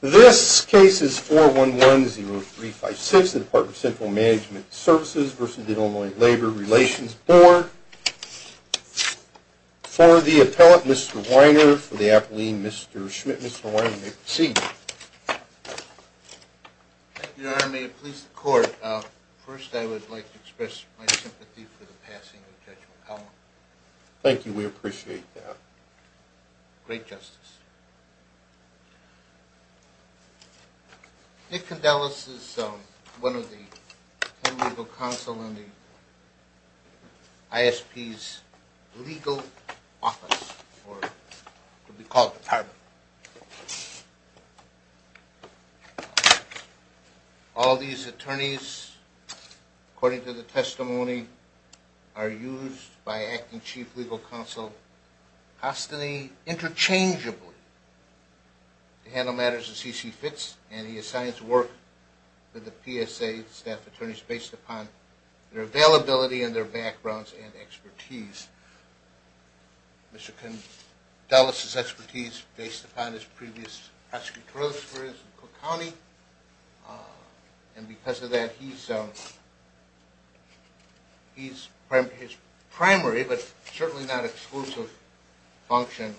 This case is 411-0356, the Department of Central Management Services v. The Illinois Labor Relations Board. For the appellant, Mr. Weiner, for the appellee, Mr. Schmidt. Mr. Weiner, you may proceed. Thank you, Your Honor. May it please the Court, first I would like to express my sympathy for the passing of Judge McConnell. Thank you. We appreciate that. Great justice. Nick Condellis is one of the legal counsel in the ISP's legal office, or what we call the Department. All these attorneys, according to the testimony, are used by Acting Chief Legal Counsel Hostany interchangeably to handle matters of C.C. Fitz, and he assigns work to the PSA staff attorneys based upon their availability and their backgrounds and expertise. Mr. Condellis' expertise based upon his previous prosecutorial experience in Cook County, and because of that, his primary, but certainly not exclusive, function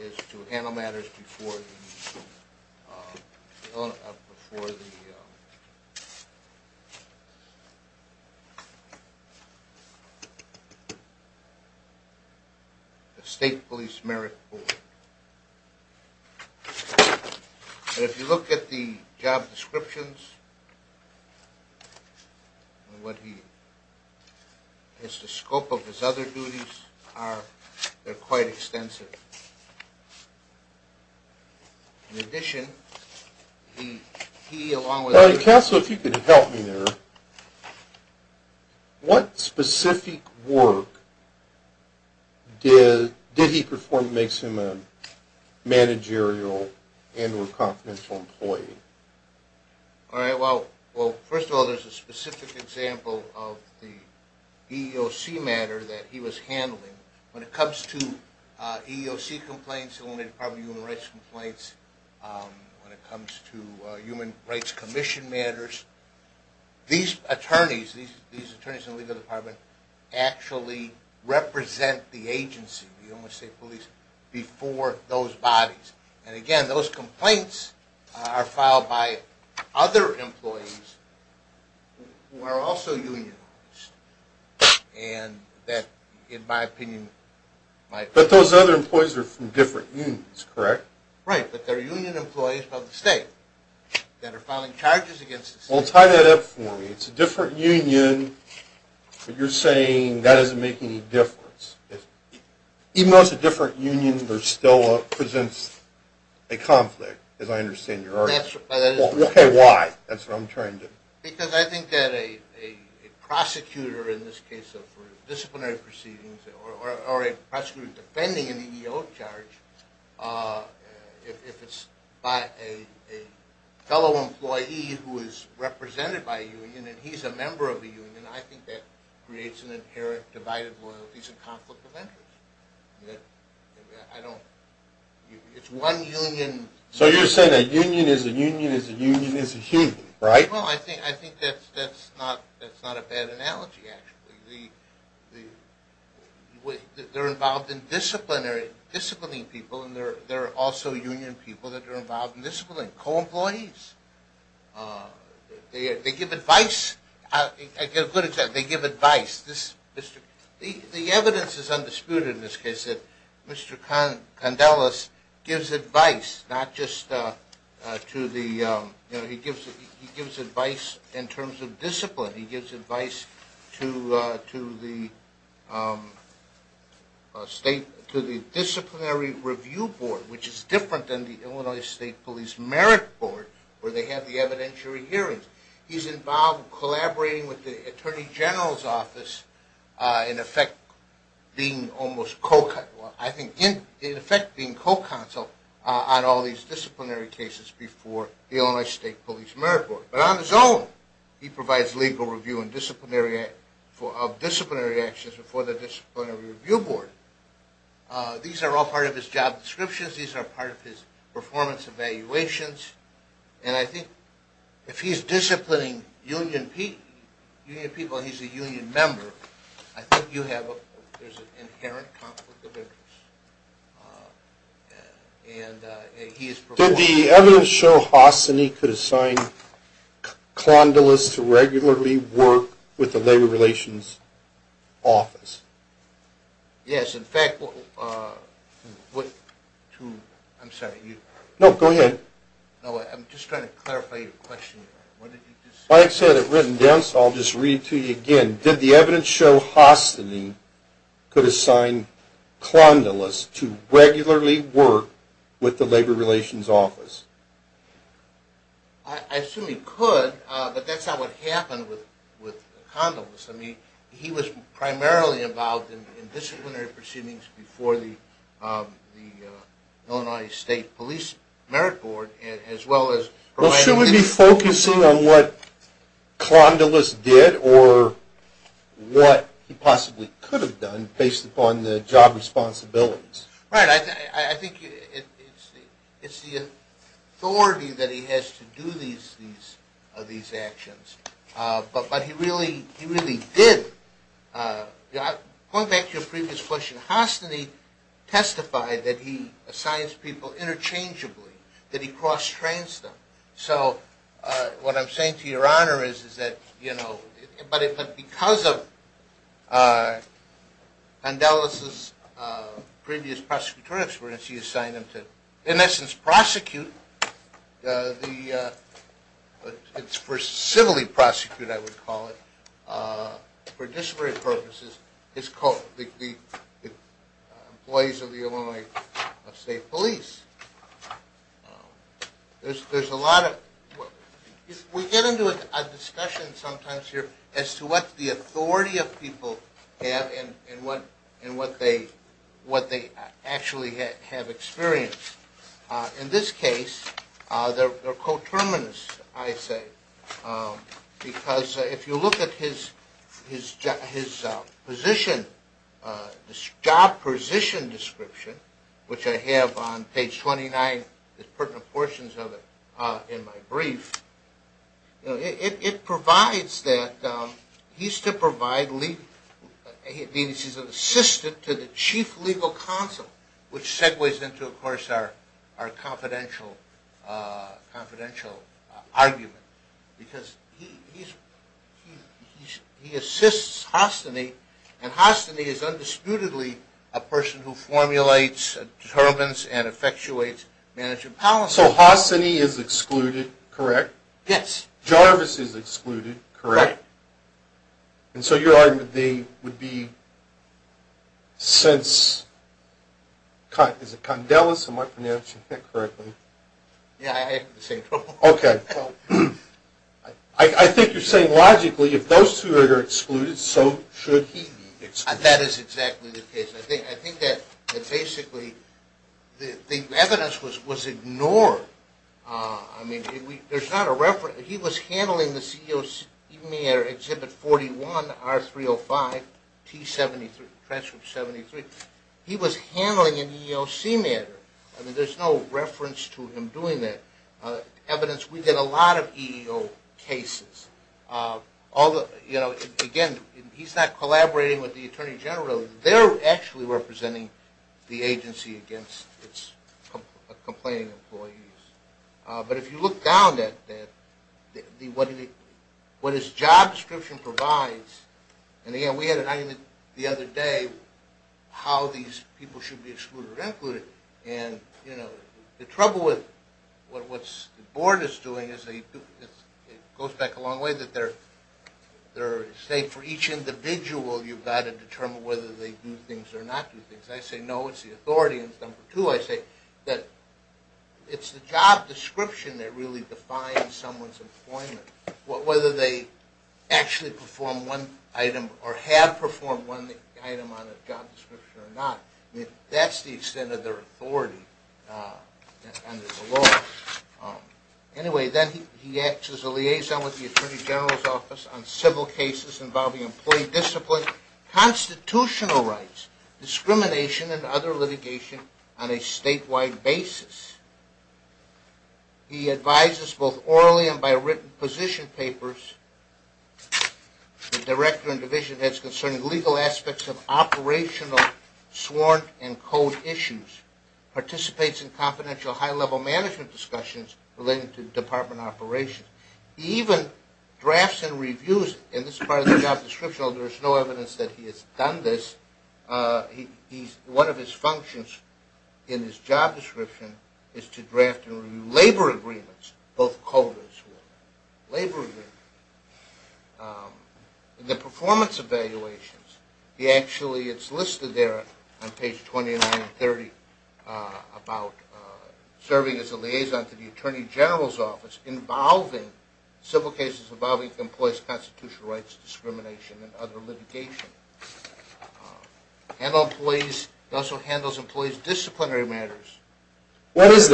is to handle matters before the State Police Merit Board. If you look at the job descriptions, what he, the scope of his other duties are, they're quite extensive. In addition, he along with Counsel, if you could help me there, what specific work did he perform that makes him a managerial and or confidential employee? Well, first of all, there's a specific example of the EEOC matter that he was handling. When it comes to EEOC complaints, when it comes to Human Rights Commission matters, these attorneys, these attorneys in the legal department, actually represent the agency, the Illinois State Police, before those bodies. And again, those complaints are filed by other employees who are also union employees, and that, in my opinion... But those other employees are from different unions, correct? Right, but they're union employees of the state that are filing charges against the state. Well, tie that up for me. It's a different union, but you're saying that doesn't make any difference. Even though it's a different union, there still presents a conflict, as I understand your argument. That's... Okay, why? That's what I'm trying to... Because I think that a prosecutor, in this case of disciplinary proceedings, or a prosecutor defending an EEOC charge, if it's by a fellow employee who is represented by a union, and he's a member of the union, I think that creates an inherent divided loyalties and conflict of interest. It's one union... So you're saying that a union is a union is a union is a union, right? Well, I think that's not a bad analogy, actually. They're involved in disciplining people, and they're also union people that are involved in disciplining co-employees. They give advice. The evidence is undisputed in this case that Mr. Condellis gives advice, not just to the... He gives advice in terms of discipline. He gives advice to the Disciplinary Review Board, which is different than the Illinois State Police Merit Board, where they have the evidentiary hearings. He's involved in collaborating with the Attorney General's office, in effect being almost co-counsel on all these disciplinary cases before the Illinois State Police Merit Board. But on his own, he provides legal review of disciplinary actions before the Disciplinary Review Board. These are all part of his job descriptions, these are all part of his performance evaluations, and I think if he's disciplining union people, he's a union member, I think you have an inherent conflict of interest. Did the evidence show Hostany could assign Condellis to regularly work with the Labor Relations Office? Yes, in fact... I'm sorry, you... No, go ahead. No, I'm just trying to clarify your question. Mike said it written down, so I'll just read it to you again. Did the evidence show Hostany could assign Condellis to regularly work with the Labor Relations Office? I assume he could, but that's not what happened with Condellis. I mean, he was primarily involved in disciplinary proceedings before the Illinois State Police Merit Board, as well as... Well, should we be focusing on what Condellis did or what he possibly could have done based upon the job responsibilities? Right, I think it's the authority that he has to do these actions, but he really did... Going back to your previous question, Hostany testified that he assigns people interchangeably, that he cross-trains them. So, what I'm saying to Your Honor is that, you know... But because of Condellis' previous prosecutorial experience, he assigned them to, in essence, prosecute the... It's for civilly prosecute, I would call it, for disciplinary purposes, the employees of the Illinois State Police. There's a lot of... We get into a discussion sometimes here as to what the authority of people have and what they actually have experienced. In this case, they're coterminous, I say, because if you look at his job position description, which I have on page 29, there's pertinent portions of it in my brief. It provides that he's to provide... He's an assistant to the Chief Legal Counsel, which segues into, of course, our confidential argument, because he assists Hostany, and Hostany is undisputedly a person who formulates, determines, and effectuates management policy. So, Hostany is excluded, correct? Yes. Jarvis is excluded, correct? Right. And so, your argument would be, since... Is it Condellis, am I pronouncing that correctly? Yeah, I have the same trouble. Okay. I think you're saying, logically, if those two are excluded, so should he be excluded. That is exactly the case. I think that, basically, the evidence was ignored. I mean, there's not a reference... He was handling the EEOC matter, Exhibit 41, R305, T73, Transcript 73. He was handling an EEOC matter. I mean, there's no reference to him doing that. Evidence... We get a lot of EEO cases. Again, he's not collaborating with the Attorney General. They're actually representing the agency against its complaining employees. But if you look down at what his job description provides, and again, we had an item the other day, how these people should be excluded or included. And, you know, the trouble with what the board is doing is, it goes back a long way, that they're saying, for each individual, you've got to determine whether they do things or not do things. I say, no, it's the authority, and number two, I say that it's the job description that really defines someone's employment. Whether they actually perform one item or have performed one item on a job description or not, that's the extent of their authority under the law. Anyway, then he acts as a liaison with the Attorney General's Office on civil cases involving employee discipline, constitutional rights, discrimination, and other litigation on a statewide basis. He advises both orally and by written position papers to director and division heads concerning legal aspects of operational, sworn, and code issues. Participates in confidential high-level management discussions related to department operations. He even drafts and reviews, and this is part of the job description, although there's no evidence that he has done this. One of his functions in his job description is to draft and review labor agreements, both coders and labor agreements. The performance evaluations, he actually, it's listed there on page 29 and 30 about serving as a liaison to the Attorney General's Office involving civil cases involving employees' constitutional rights, discrimination, and other litigation. He also handles employees' disciplinary matters. What is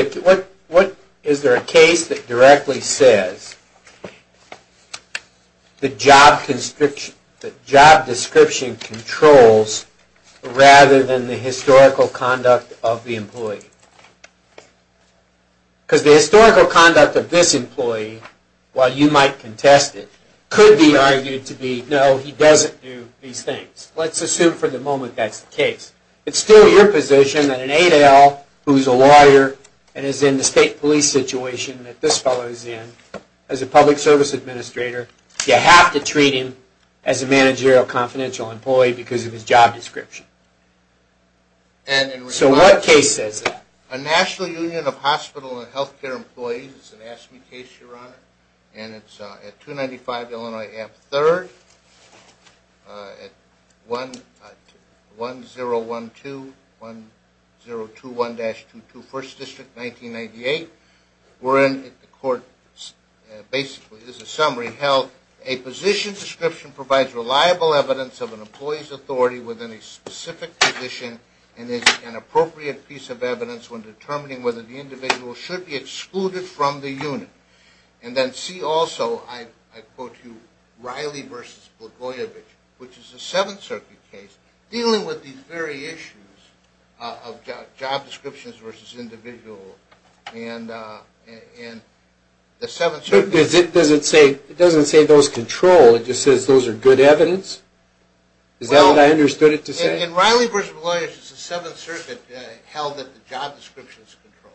there a case that directly says the job description controls rather than the historical conduct of the employee? Because the historical conduct of this employee, while you might contest it, could be argued to be, no, he doesn't do these things. Let's assume for the moment that's the case. It's still your position that an 8L who's a lawyer and is in the state police situation that this fellow is in, as a public service administrator, you have to treat him as a managerial confidential employee because of his job description. So what case says that? A National Union of Hospital and Healthcare Employees, it's an AFSCME case, Your Honor, and it's at 295 Illinois Ave. 3rd at 1012-1021-22 1st District, 1998. Wherein the court basically is a summary held, a position description provides reliable evidence of an employee's authority within a specific position and is an appropriate piece of evidence when determining whether the individual should be excluded from the unit. And then see also, I quote you, Riley v. Blagojevich, which is a Seventh Circuit case, dealing with these very issues of job descriptions versus individual, and the Seventh Circuit... But does it say, it doesn't say those control, it just says those are good evidence? Is that what I understood it to say? In Riley v. Blagojevich, it's the Seventh Circuit held that the job description is controlled.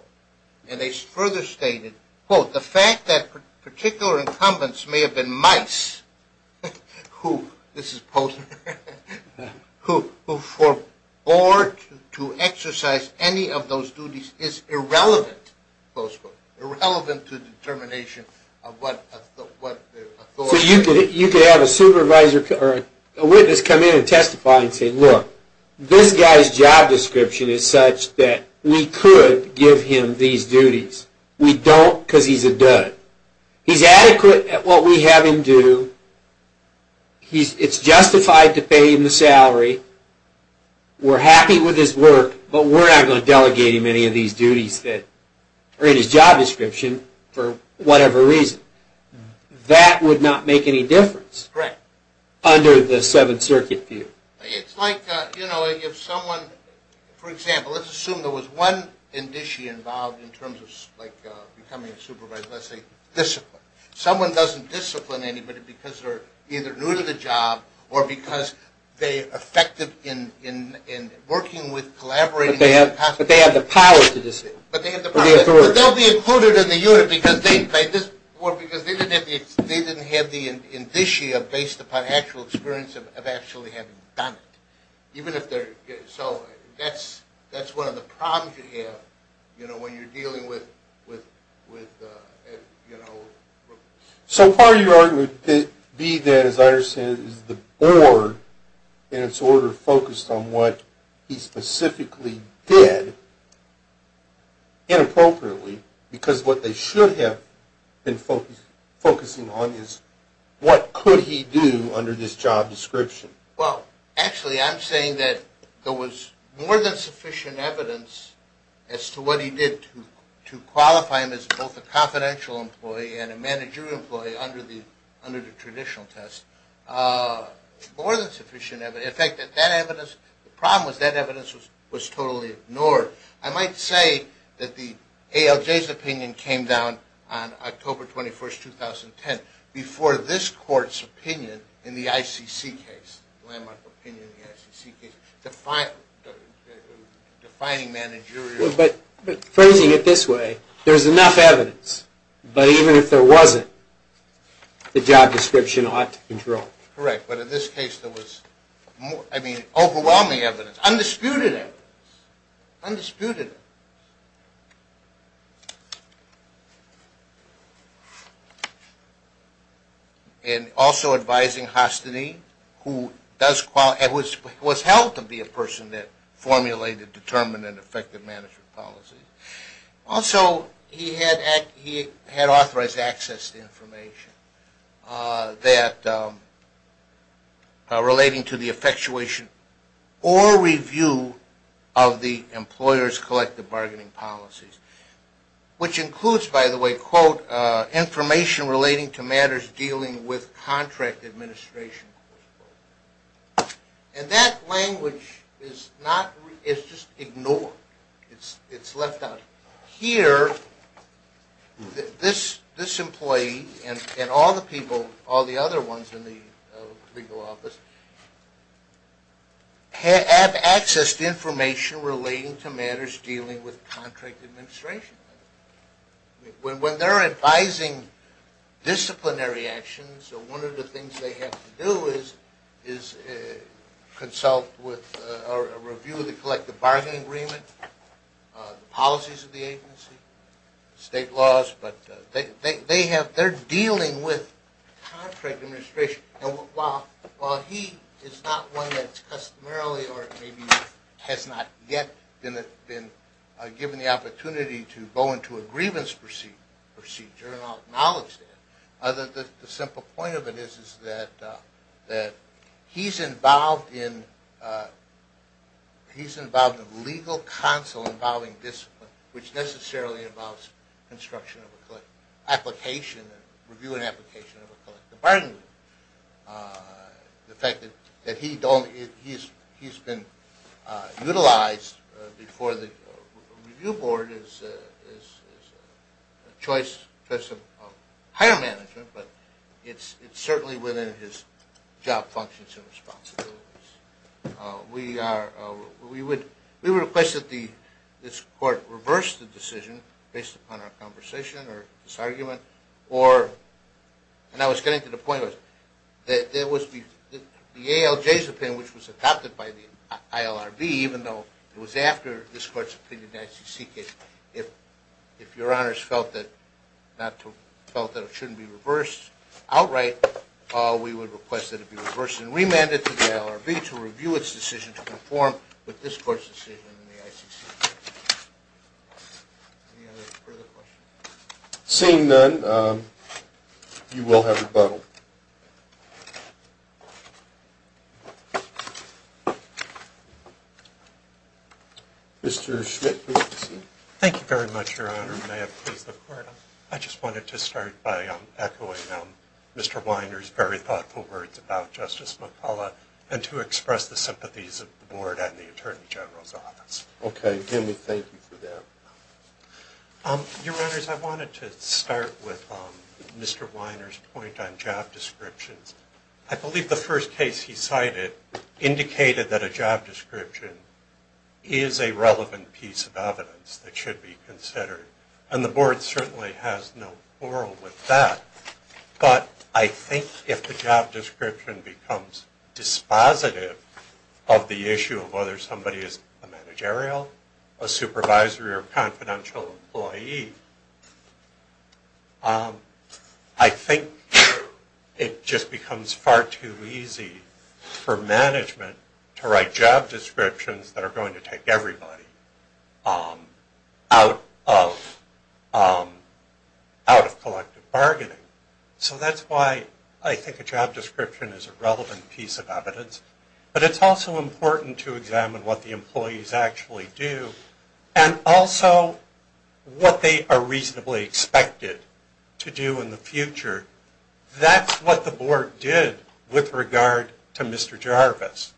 And they further stated, quote, the fact that particular incumbents may have been mice, who, this is Posner, who forebore to exercise any of those duties is irrelevant, close quote, irrelevant to the determination of what authority... So you could have a supervisor or a witness come in and testify and say, look, this guy's job description is such that we could give him these duties. We don't because he's a dud. He's adequate at what we have him do. It's justified to pay him the salary. We're happy with his work, but we're not going to delegate him any of these duties that are in his job description for whatever reason. That would not make any difference under the Seventh Circuit view. It's like, you know, if someone, for example, let's assume there was one indicia involved in terms of becoming a supervisor, let's say discipline. Someone doesn't discipline anybody because they're either new to the job or because they're effective in working with, collaborating... But they have the power to discipline. But they'll be included in the unit because they didn't have the indicia based upon actual experience of actually having done it. Even if they're... so that's one of the problems you have, you know, when you're dealing with, you know... So part of your argument would be that, as I understand it, is the board, in its order, focused on what he specifically did inappropriately because what they should have been focusing on is what could he do under this job description. Well, actually, I'm saying that there was more than sufficient evidence as to what he did to qualify him as both a confidential employee and a managerial employee under the traditional test. More than sufficient evidence... in fact, that evidence... the problem was that evidence was totally ignored. I might say that the ALJ's opinion came down on October 21st, 2010, before this court's opinion in the ICC case, landmark opinion in the ICC case, defining managerial... But phrasing it this way, there's enough evidence, but even if there wasn't, the job description ought to control it. Correct, but in this case there was, I mean, overwhelming evidence, undisputed evidence, undisputed. And also advising Hostany, who was held to be a person that formulated determined and effective management policies. Also, he had authorized access to information relating to the effectuation or review of the employer's collective bargaining policies, which includes, by the way, quote, information relating to matters dealing with contract administration. And that language is just ignored. It's left out. Here, this employee and all the people, all the other ones in the legal office, have access to information relating to matters dealing with contract administration. When they're advising disciplinary actions, one of the things they have to do is consult with or review the collective bargaining agreement, the policies of the agency, state laws, but they're dealing with contract administration. While he is not one that customarily or maybe has not yet been given the opportunity to go into a grievance procedure and acknowledge that, the simple point of it is that he's involved in legal counsel involving discipline, which necessarily involves construction of an application, review and application of a collective bargaining agreement. The fact that he's been utilized before the review board is a choice of higher management, but it's certainly within his job functions and responsibilities. We would request that this court reverse the decision based upon our conversation or this argument. And I was getting to the point that the ALJ's opinion, which was adopted by the ILRB, even though it was after this court's opinion, actually seek it, if your honors felt that it shouldn't be reversed outright, we would request that it be reversed and remanded to the ILRB to review its decision to conform with this court's decision in the ICC. Any other further questions? Seeing none, you will have rebuttal. Mr. Schmidt, please proceed. Thank you very much, Your Honor. I just wanted to start by echoing Mr. Weiner's very thoughtful words about Justice McCullough and to express the sympathies of the board and the Attorney General's office. Okay. Thank you for that. Your Honors, I wanted to start with Mr. Weiner's point on job descriptions. I believe the first case he cited indicated that a job description is a relevant piece of evidence that should be considered. And the board certainly has no quarrel with that. But I think if the job description becomes dispositive of the issue of whether somebody is a managerial, a supervisory, or a confidential employee, I think it just becomes far too easy for management to write job descriptions that are going to take everybody out of collective bargaining. So that's why I think a job description is a relevant piece of evidence. But it's also important to examine what the employees actually do and also what they are reasonably expected to do in the future. That's what the board did with regard to Mr. Jarvis.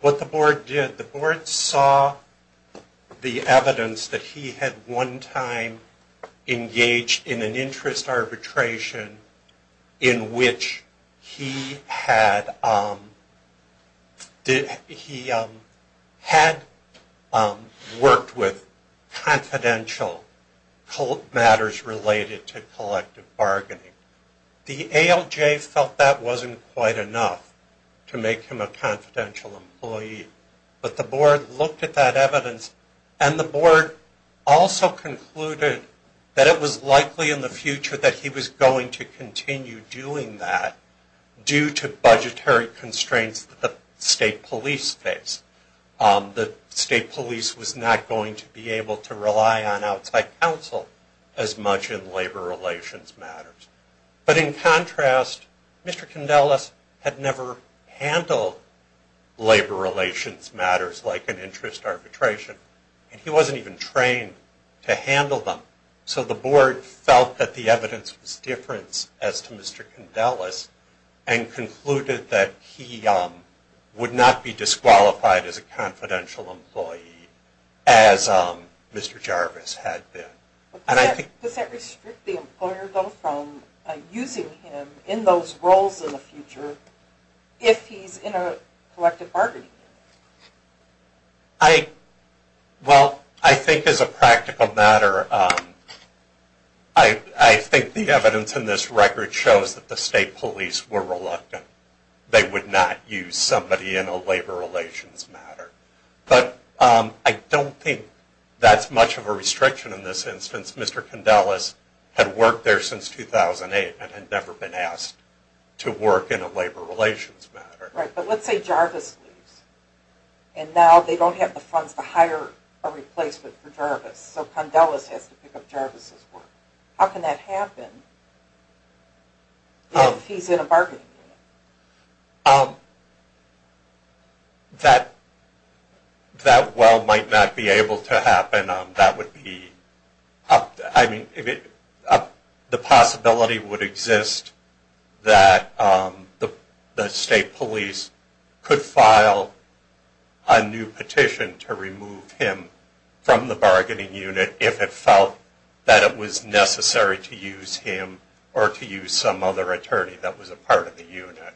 What the board did, the board saw the evidence that he had one time engaged in an interest arbitration in which he had worked with confidential matters related to collective bargaining. The ALJ felt that wasn't quite enough to make him a confidential employee. But the board looked at that evidence and the board also concluded that it was likely in the future that he was going to continue doing that due to budgetary constraints that the state police face. The state police was not going to be able to rely on outside counsel as much in labor relations matters. But in contrast, Mr. Condellis had never handled labor relations matters like an interest arbitration and he wasn't even trained to handle them. So the board felt that the evidence was different as to Mr. Condellis and concluded that he would not be disqualified as a confidential employee as Mr. Jarvis had been. Does that restrict the employer though from using him in those roles in the future if he's in a collective bargaining? Well, I think as a practical matter, I think the evidence in this record shows that the state police were reluctant. They would not use somebody in a labor relations matter. But I don't think that's much of a restriction in this instance. Mr. Condellis had worked there since 2008 and had never been asked to work in a labor relations matter. But let's say Jarvis leaves and now they don't have the funds to hire a replacement for Jarvis. So Condellis has to pick up Jarvis's work. How can that happen if he's in a bargaining unit? That well might not be able to happen. The possibility would exist that the state police could file a new petition to remove him from the bargaining unit if it felt that it was necessary to use him or to use some other attorney that was a part of the unit.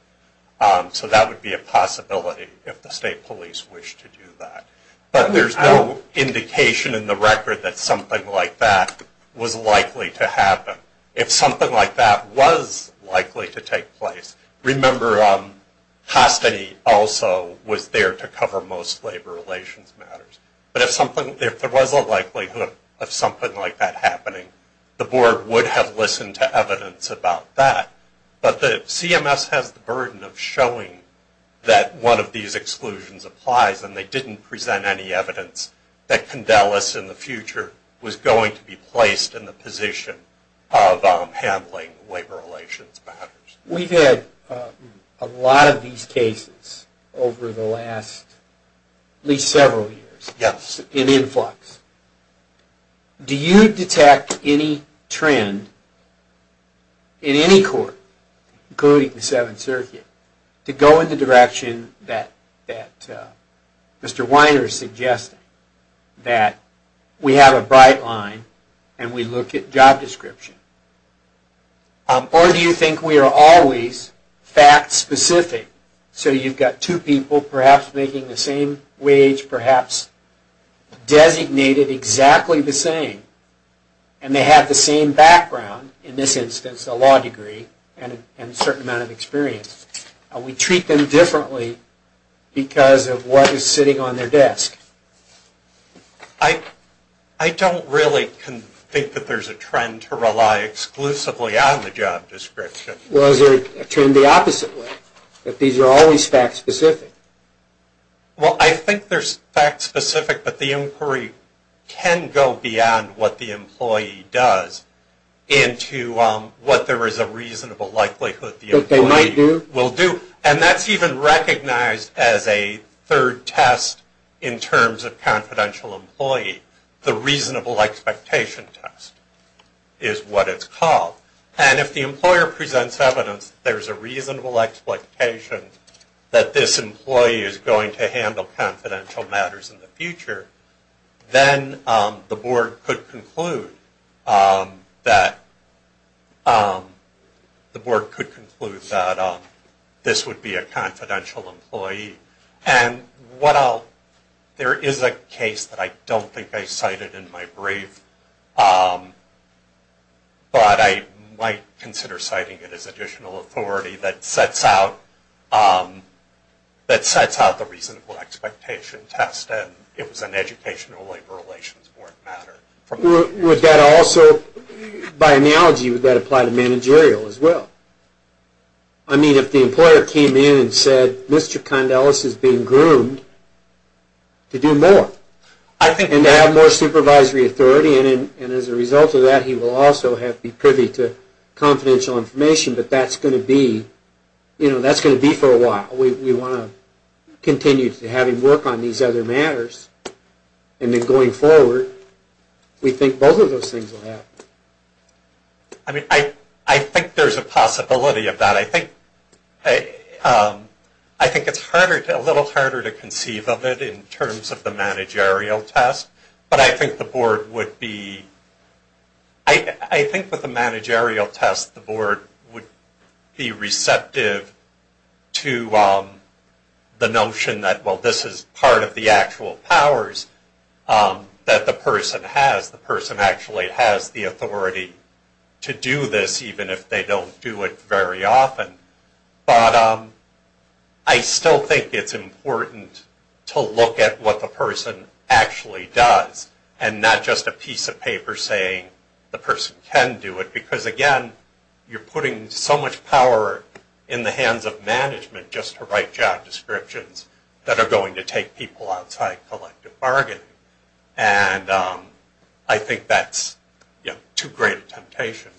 So that would be a possibility if the state police wished to do that. But there's no indication in the record that something like that was likely to happen. If something like that was likely to take place, remember Hostany also was there to cover most labor relations matters. But if there was a likelihood of something like that happening, the board would have listened to evidence about that. But the CMS has the burden of showing that one of these exclusions applies and they didn't present any evidence that Condellis in the future was going to be placed in the position of handling labor relations matters. We've had a lot of these cases over the last at least several years in influx. Do you detect any trend in any court, including the Seventh Circuit, to go in the direction that Mr. Weiner is suggesting? That we have a bright line and we look at job description? Or do you think we are always fact specific? So you've got two people perhaps making the same wage, perhaps designated exactly the same. And they have the same background, in this instance a law degree and a certain amount of experience. We treat them differently because of what is sitting on their desk? I don't really think that there's a trend to rely exclusively on the job description. Well, is there a trend the opposite way? That these are always fact specific? Well, I think they're fact specific, but the inquiry can go beyond what the employee does into what there is a reasonable likelihood the employee will do. That they might do? It's recognized as a third test in terms of confidential employee. The reasonable expectation test is what it's called. And if the employer presents evidence that there is a reasonable expectation that this employee is going to handle confidential matters in the future, then the board could conclude that this would be a confidential employee. And there is a case that I don't think I cited in my brief, but I might consider citing it as additional authority that sets out the reasonable expectation test. It was an educational labor relations board matter. Would that also, by analogy, would that apply to managerial as well? I mean, if the employer came in and said, Mr. Condellis is being groomed to do more, and to have more supervisory authority, and as a result of that he will also have to be privy to confidential information, but that's going to be for a while. We want to continue to have him work on these other matters. And then going forward, we think both of those things will happen. I mean, I think there's a possibility of that. I think it's a little harder to conceive of it in terms of the managerial test. But I think the board would be, I think with the managerial test, the board would be receptive to the notion that, well, this is part of the actual powers that the person has. The person actually has the authority to do this, even if they don't do it very often. But I still think it's important to look at what the person actually does, and not just a piece of paper saying the person can do it. Because, again, you're putting so much power in the hands of management just to write job descriptions that are going to take people outside collective bargaining. And I think that's too great a temptation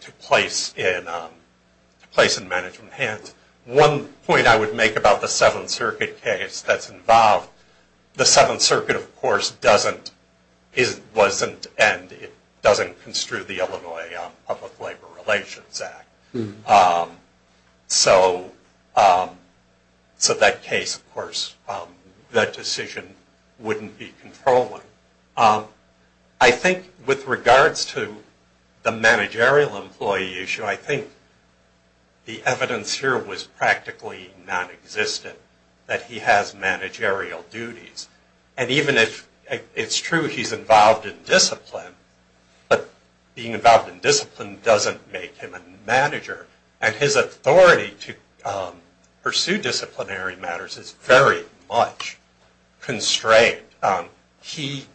to place in management hands. One point I would make about the Seventh Circuit case that's involved, the Seventh Circuit, of course, doesn't, and it doesn't construe the Illinois Public Labor Relations Act. So that case, of course, that decision wouldn't be controlling. I think with regards to the managerial employee issue, I think the evidence here was practically nonexistent, that he has managerial duties. And even if it's true he's involved in discipline, but being involved in discipline doesn't make him a manager. And his authority to pursue disciplinary matters is very much constrained. He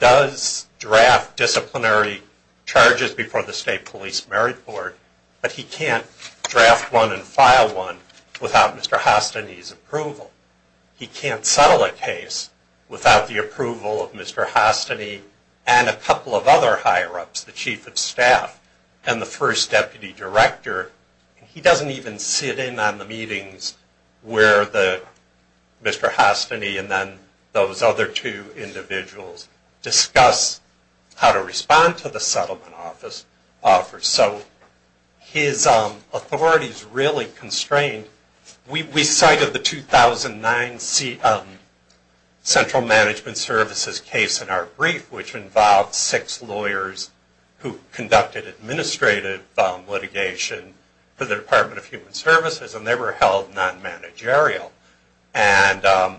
does draft disciplinary charges before the State Police Merit Board, but he can't draft one and file one without Mr. Hastiny's approval. He can't settle a case without the approval of Mr. Hastiny and a couple of other higher-ups, the Chief of Staff and the First Deputy Director. He doesn't even sit in on the meetings where Mr. Hastiny and then those other two individuals discuss how to respond to the settlement office offers. So his authority is really constrained. We cited the 2009 Central Management Services case in our brief, which involved six lawyers who conducted administrative litigation for the Department of Human Services, and they were held non-managerial. And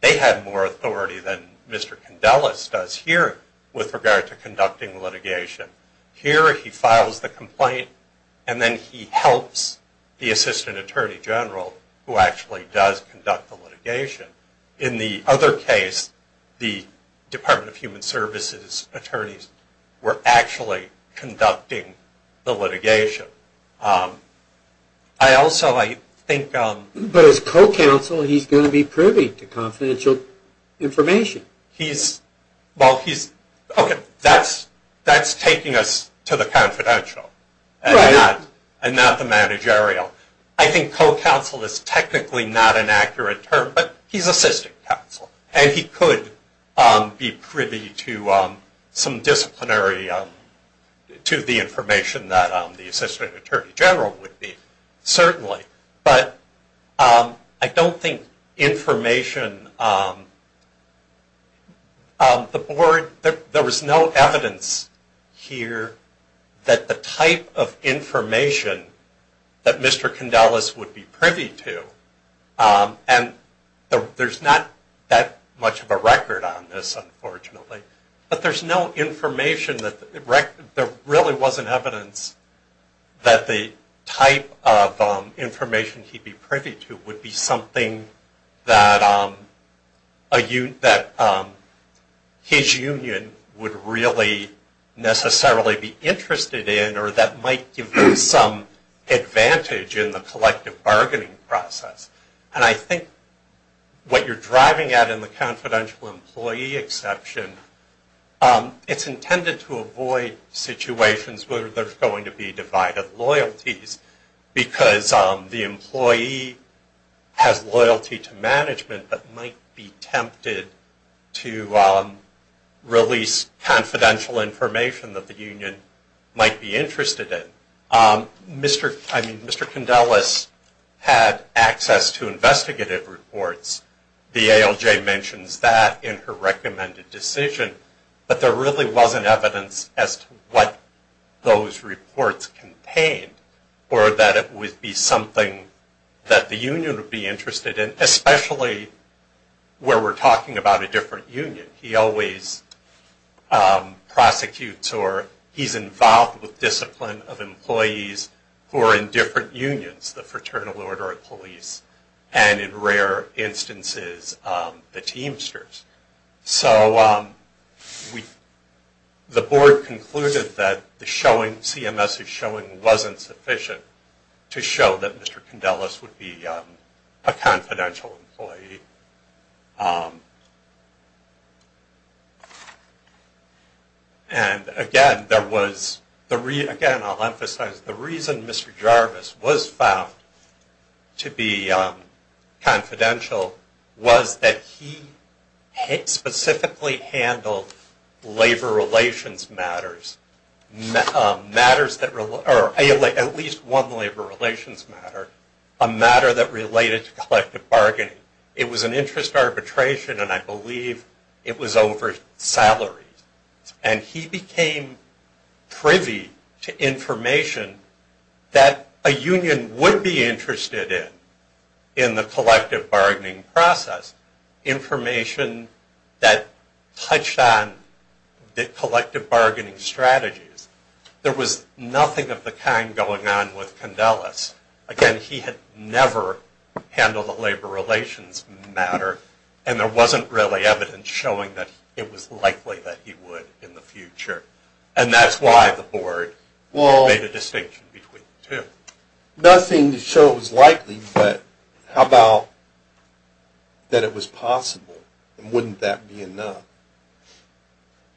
they had more authority than Mr. Condellis does here with regard to conducting litigation. Here he files the complaint, and then he helps the Assistant Attorney General who actually does conduct the litigation. In the other case, the Department of Human Services attorneys were actually conducting the litigation. I also, I think... But as co-counsel, he's going to be privy to confidential information. Well, he's... Okay, that's taking us to the confidential and not the managerial. I think co-counsel is technically not an accurate term, but he's assistant counsel. And he could be privy to some disciplinary... to the information that the Assistant Attorney General would be, certainly. But I don't think information... The board... There was no evidence here that the type of information that Mr. Condellis would be privy to. And there's not that much of a record on this, unfortunately. But there's no information that... There really wasn't evidence that the type of information he'd be privy to would be something that his union would really necessarily be interested in or that might give them some advantage in the collective bargaining process. And I think what you're driving at in the confidential employee exception, it's intended to avoid situations where there's going to be divided loyalties because the employee has loyalty to management but might be tempted to release confidential information that the union might be interested in. Mr. Condellis had access to investigative reports. The ALJ mentions that in her recommended decision. But there really wasn't evidence as to what those reports contained or that it would be something that the union would be interested in, especially where we're talking about a different union. He always prosecutes or he's involved with discipline of employees who are in different unions, the Fraternal Order of Police. And in rare instances, the Teamsters. So the board concluded that the CMS's showing wasn't sufficient to show that Mr. Condellis would be a confidential employee. And again, I'll emphasize, the reason Mr. Jarvis was found to be confidential was that he specifically handled labor relations matters. At least one labor relations matter. A matter that related to collective bargaining. It was an interest arbitration and I believe it was over salary. And he became privy to information that a union would be interested in, in the collective bargaining process. Information that touched on the collective bargaining strategies. There was nothing of the kind going on with Condellis. Again, he had never handled a labor relations matter and there wasn't really evidence showing that it was likely that he would in the future. And that's why the board made a distinction between the two. Nothing to show it was likely, but how about that it was possible? Wouldn't that be enough?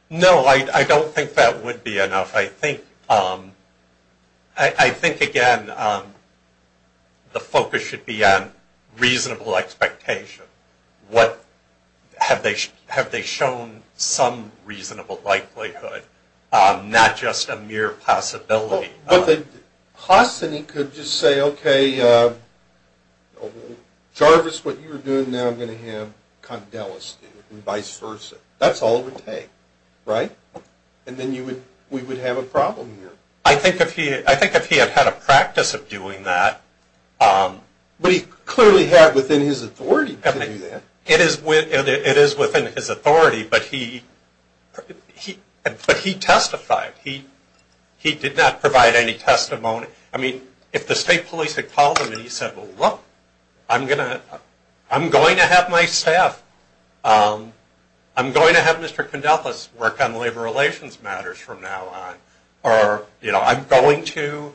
No, I don't think that would be enough. I think, again, the focus should be on reasonable expectation. Have they shown some reasonable likelihood? Not just a mere possibility. Hosny could just say, okay, Jarvis, what you're doing now, I'm going to have Condellis do, and vice versa. That's all it would take, right? And then we would have a problem here. I think if he had had a practice of doing that. But he clearly had within his authority to do that. It is within his authority, but he testified. He did not provide any testimony. I mean, if the state police had called him and he said, well, look, I'm going to have my staff, I'm going to have Mr. Condellis work on labor relations matters from now on, or I'm going to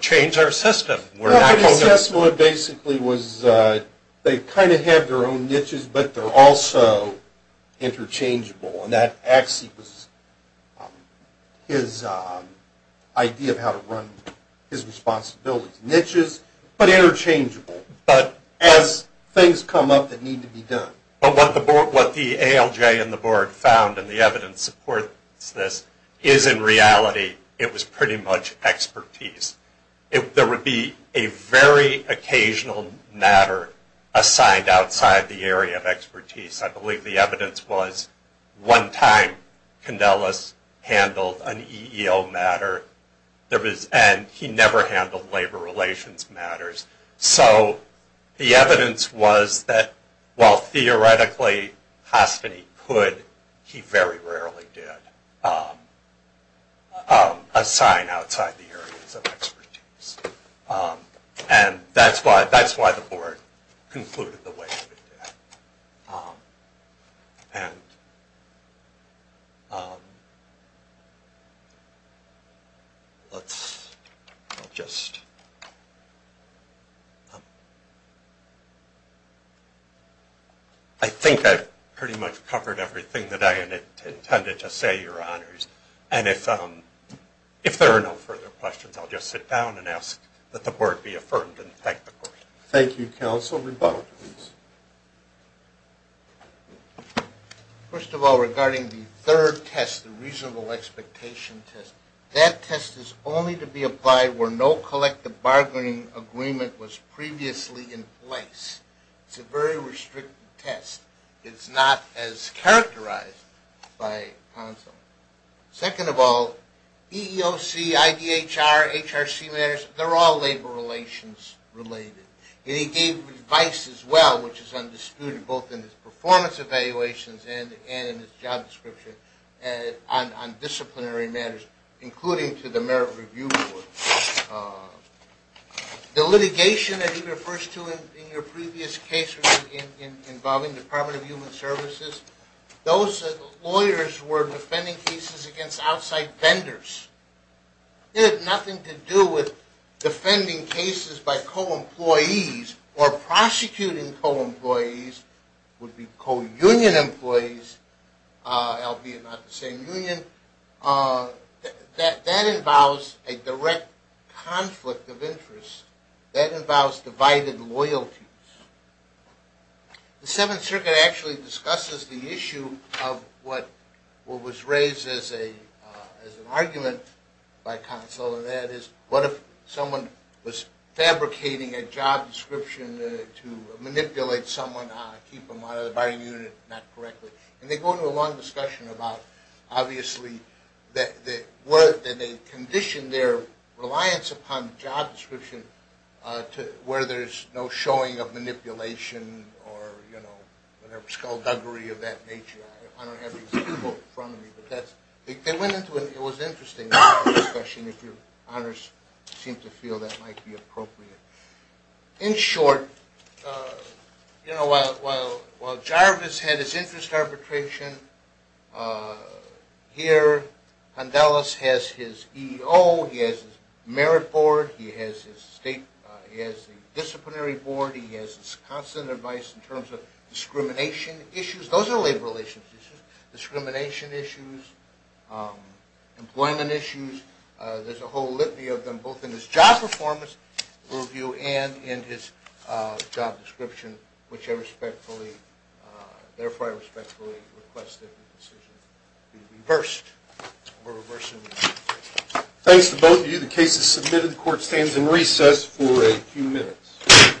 change our system. The assessment basically was they kind of had their own niches, but they're also interchangeable. And that actually was his idea of how to run his responsibilities. Niches, but interchangeable. But as things come up that need to be done. But what the ALJ and the board found, and the evidence supports this, is in reality it was pretty much expertise. There would be a very occasional matter assigned outside the area of expertise. I believe the evidence was one time Condellis handled an EEO matter, and he never handled labor relations matters. So the evidence was that while theoretically Haspany could, he very rarely did assign outside the areas of expertise. And that's why the board concluded the way it did. And let's just. I think I've pretty much covered everything that I intended to say, Your Honors. And if there are no further questions, I'll just sit down and ask that the board be affirmed and thank the board. Thank you, Counsel. Rebuttal, please. First of all, regarding the third test, the reasonable expectation test, that test is only to be applied where no collective bargaining agreement was previously in place. It's a very restricted test. It's not as characterized by Consul. Second of all, EEOC, IDHR, HRC matters, they're all labor relations related. And he gave advice as well, which is undisputed, both in his performance evaluations and in his job description on disciplinary matters, including to the Merit Review Board. The litigation that he refers to in your previous case involving the Department of Human Services, those lawyers were defending cases against outside vendors. It had nothing to do with defending cases by co-employees or prosecuting co-employees, would be co-union employees, albeit not the same union. That involves a direct conflict of interest. That involves divided loyalties. The Seventh Circuit actually discusses the issue of what was raised as an argument by Consul, and that is, what if someone was fabricating a job description to manipulate someone, keep them out of the bargaining unit, not correctly. And they go into a long discussion about, obviously, that they condition their reliance upon job description where there's no showing of manipulation or, you know, whatever, skullduggery of that nature. I don't have these people in front of me. It was interesting discussion if your honors seem to feel that might be appropriate. In short, you know, while Jarvis had his interest arbitration, here Condelas has his EEO, he has his merit board, he has his state disciplinary board, he has his constant advice in terms of discrimination issues. Those are labor relations issues. Discrimination issues, employment issues, there's a whole litany of them both in his job performance review and in his job description, which I respectfully, therefore I respectfully request that the decision be reversed. We're reversing it. Thanks to both of you. The case is submitted. The court stands in recess for a few minutes.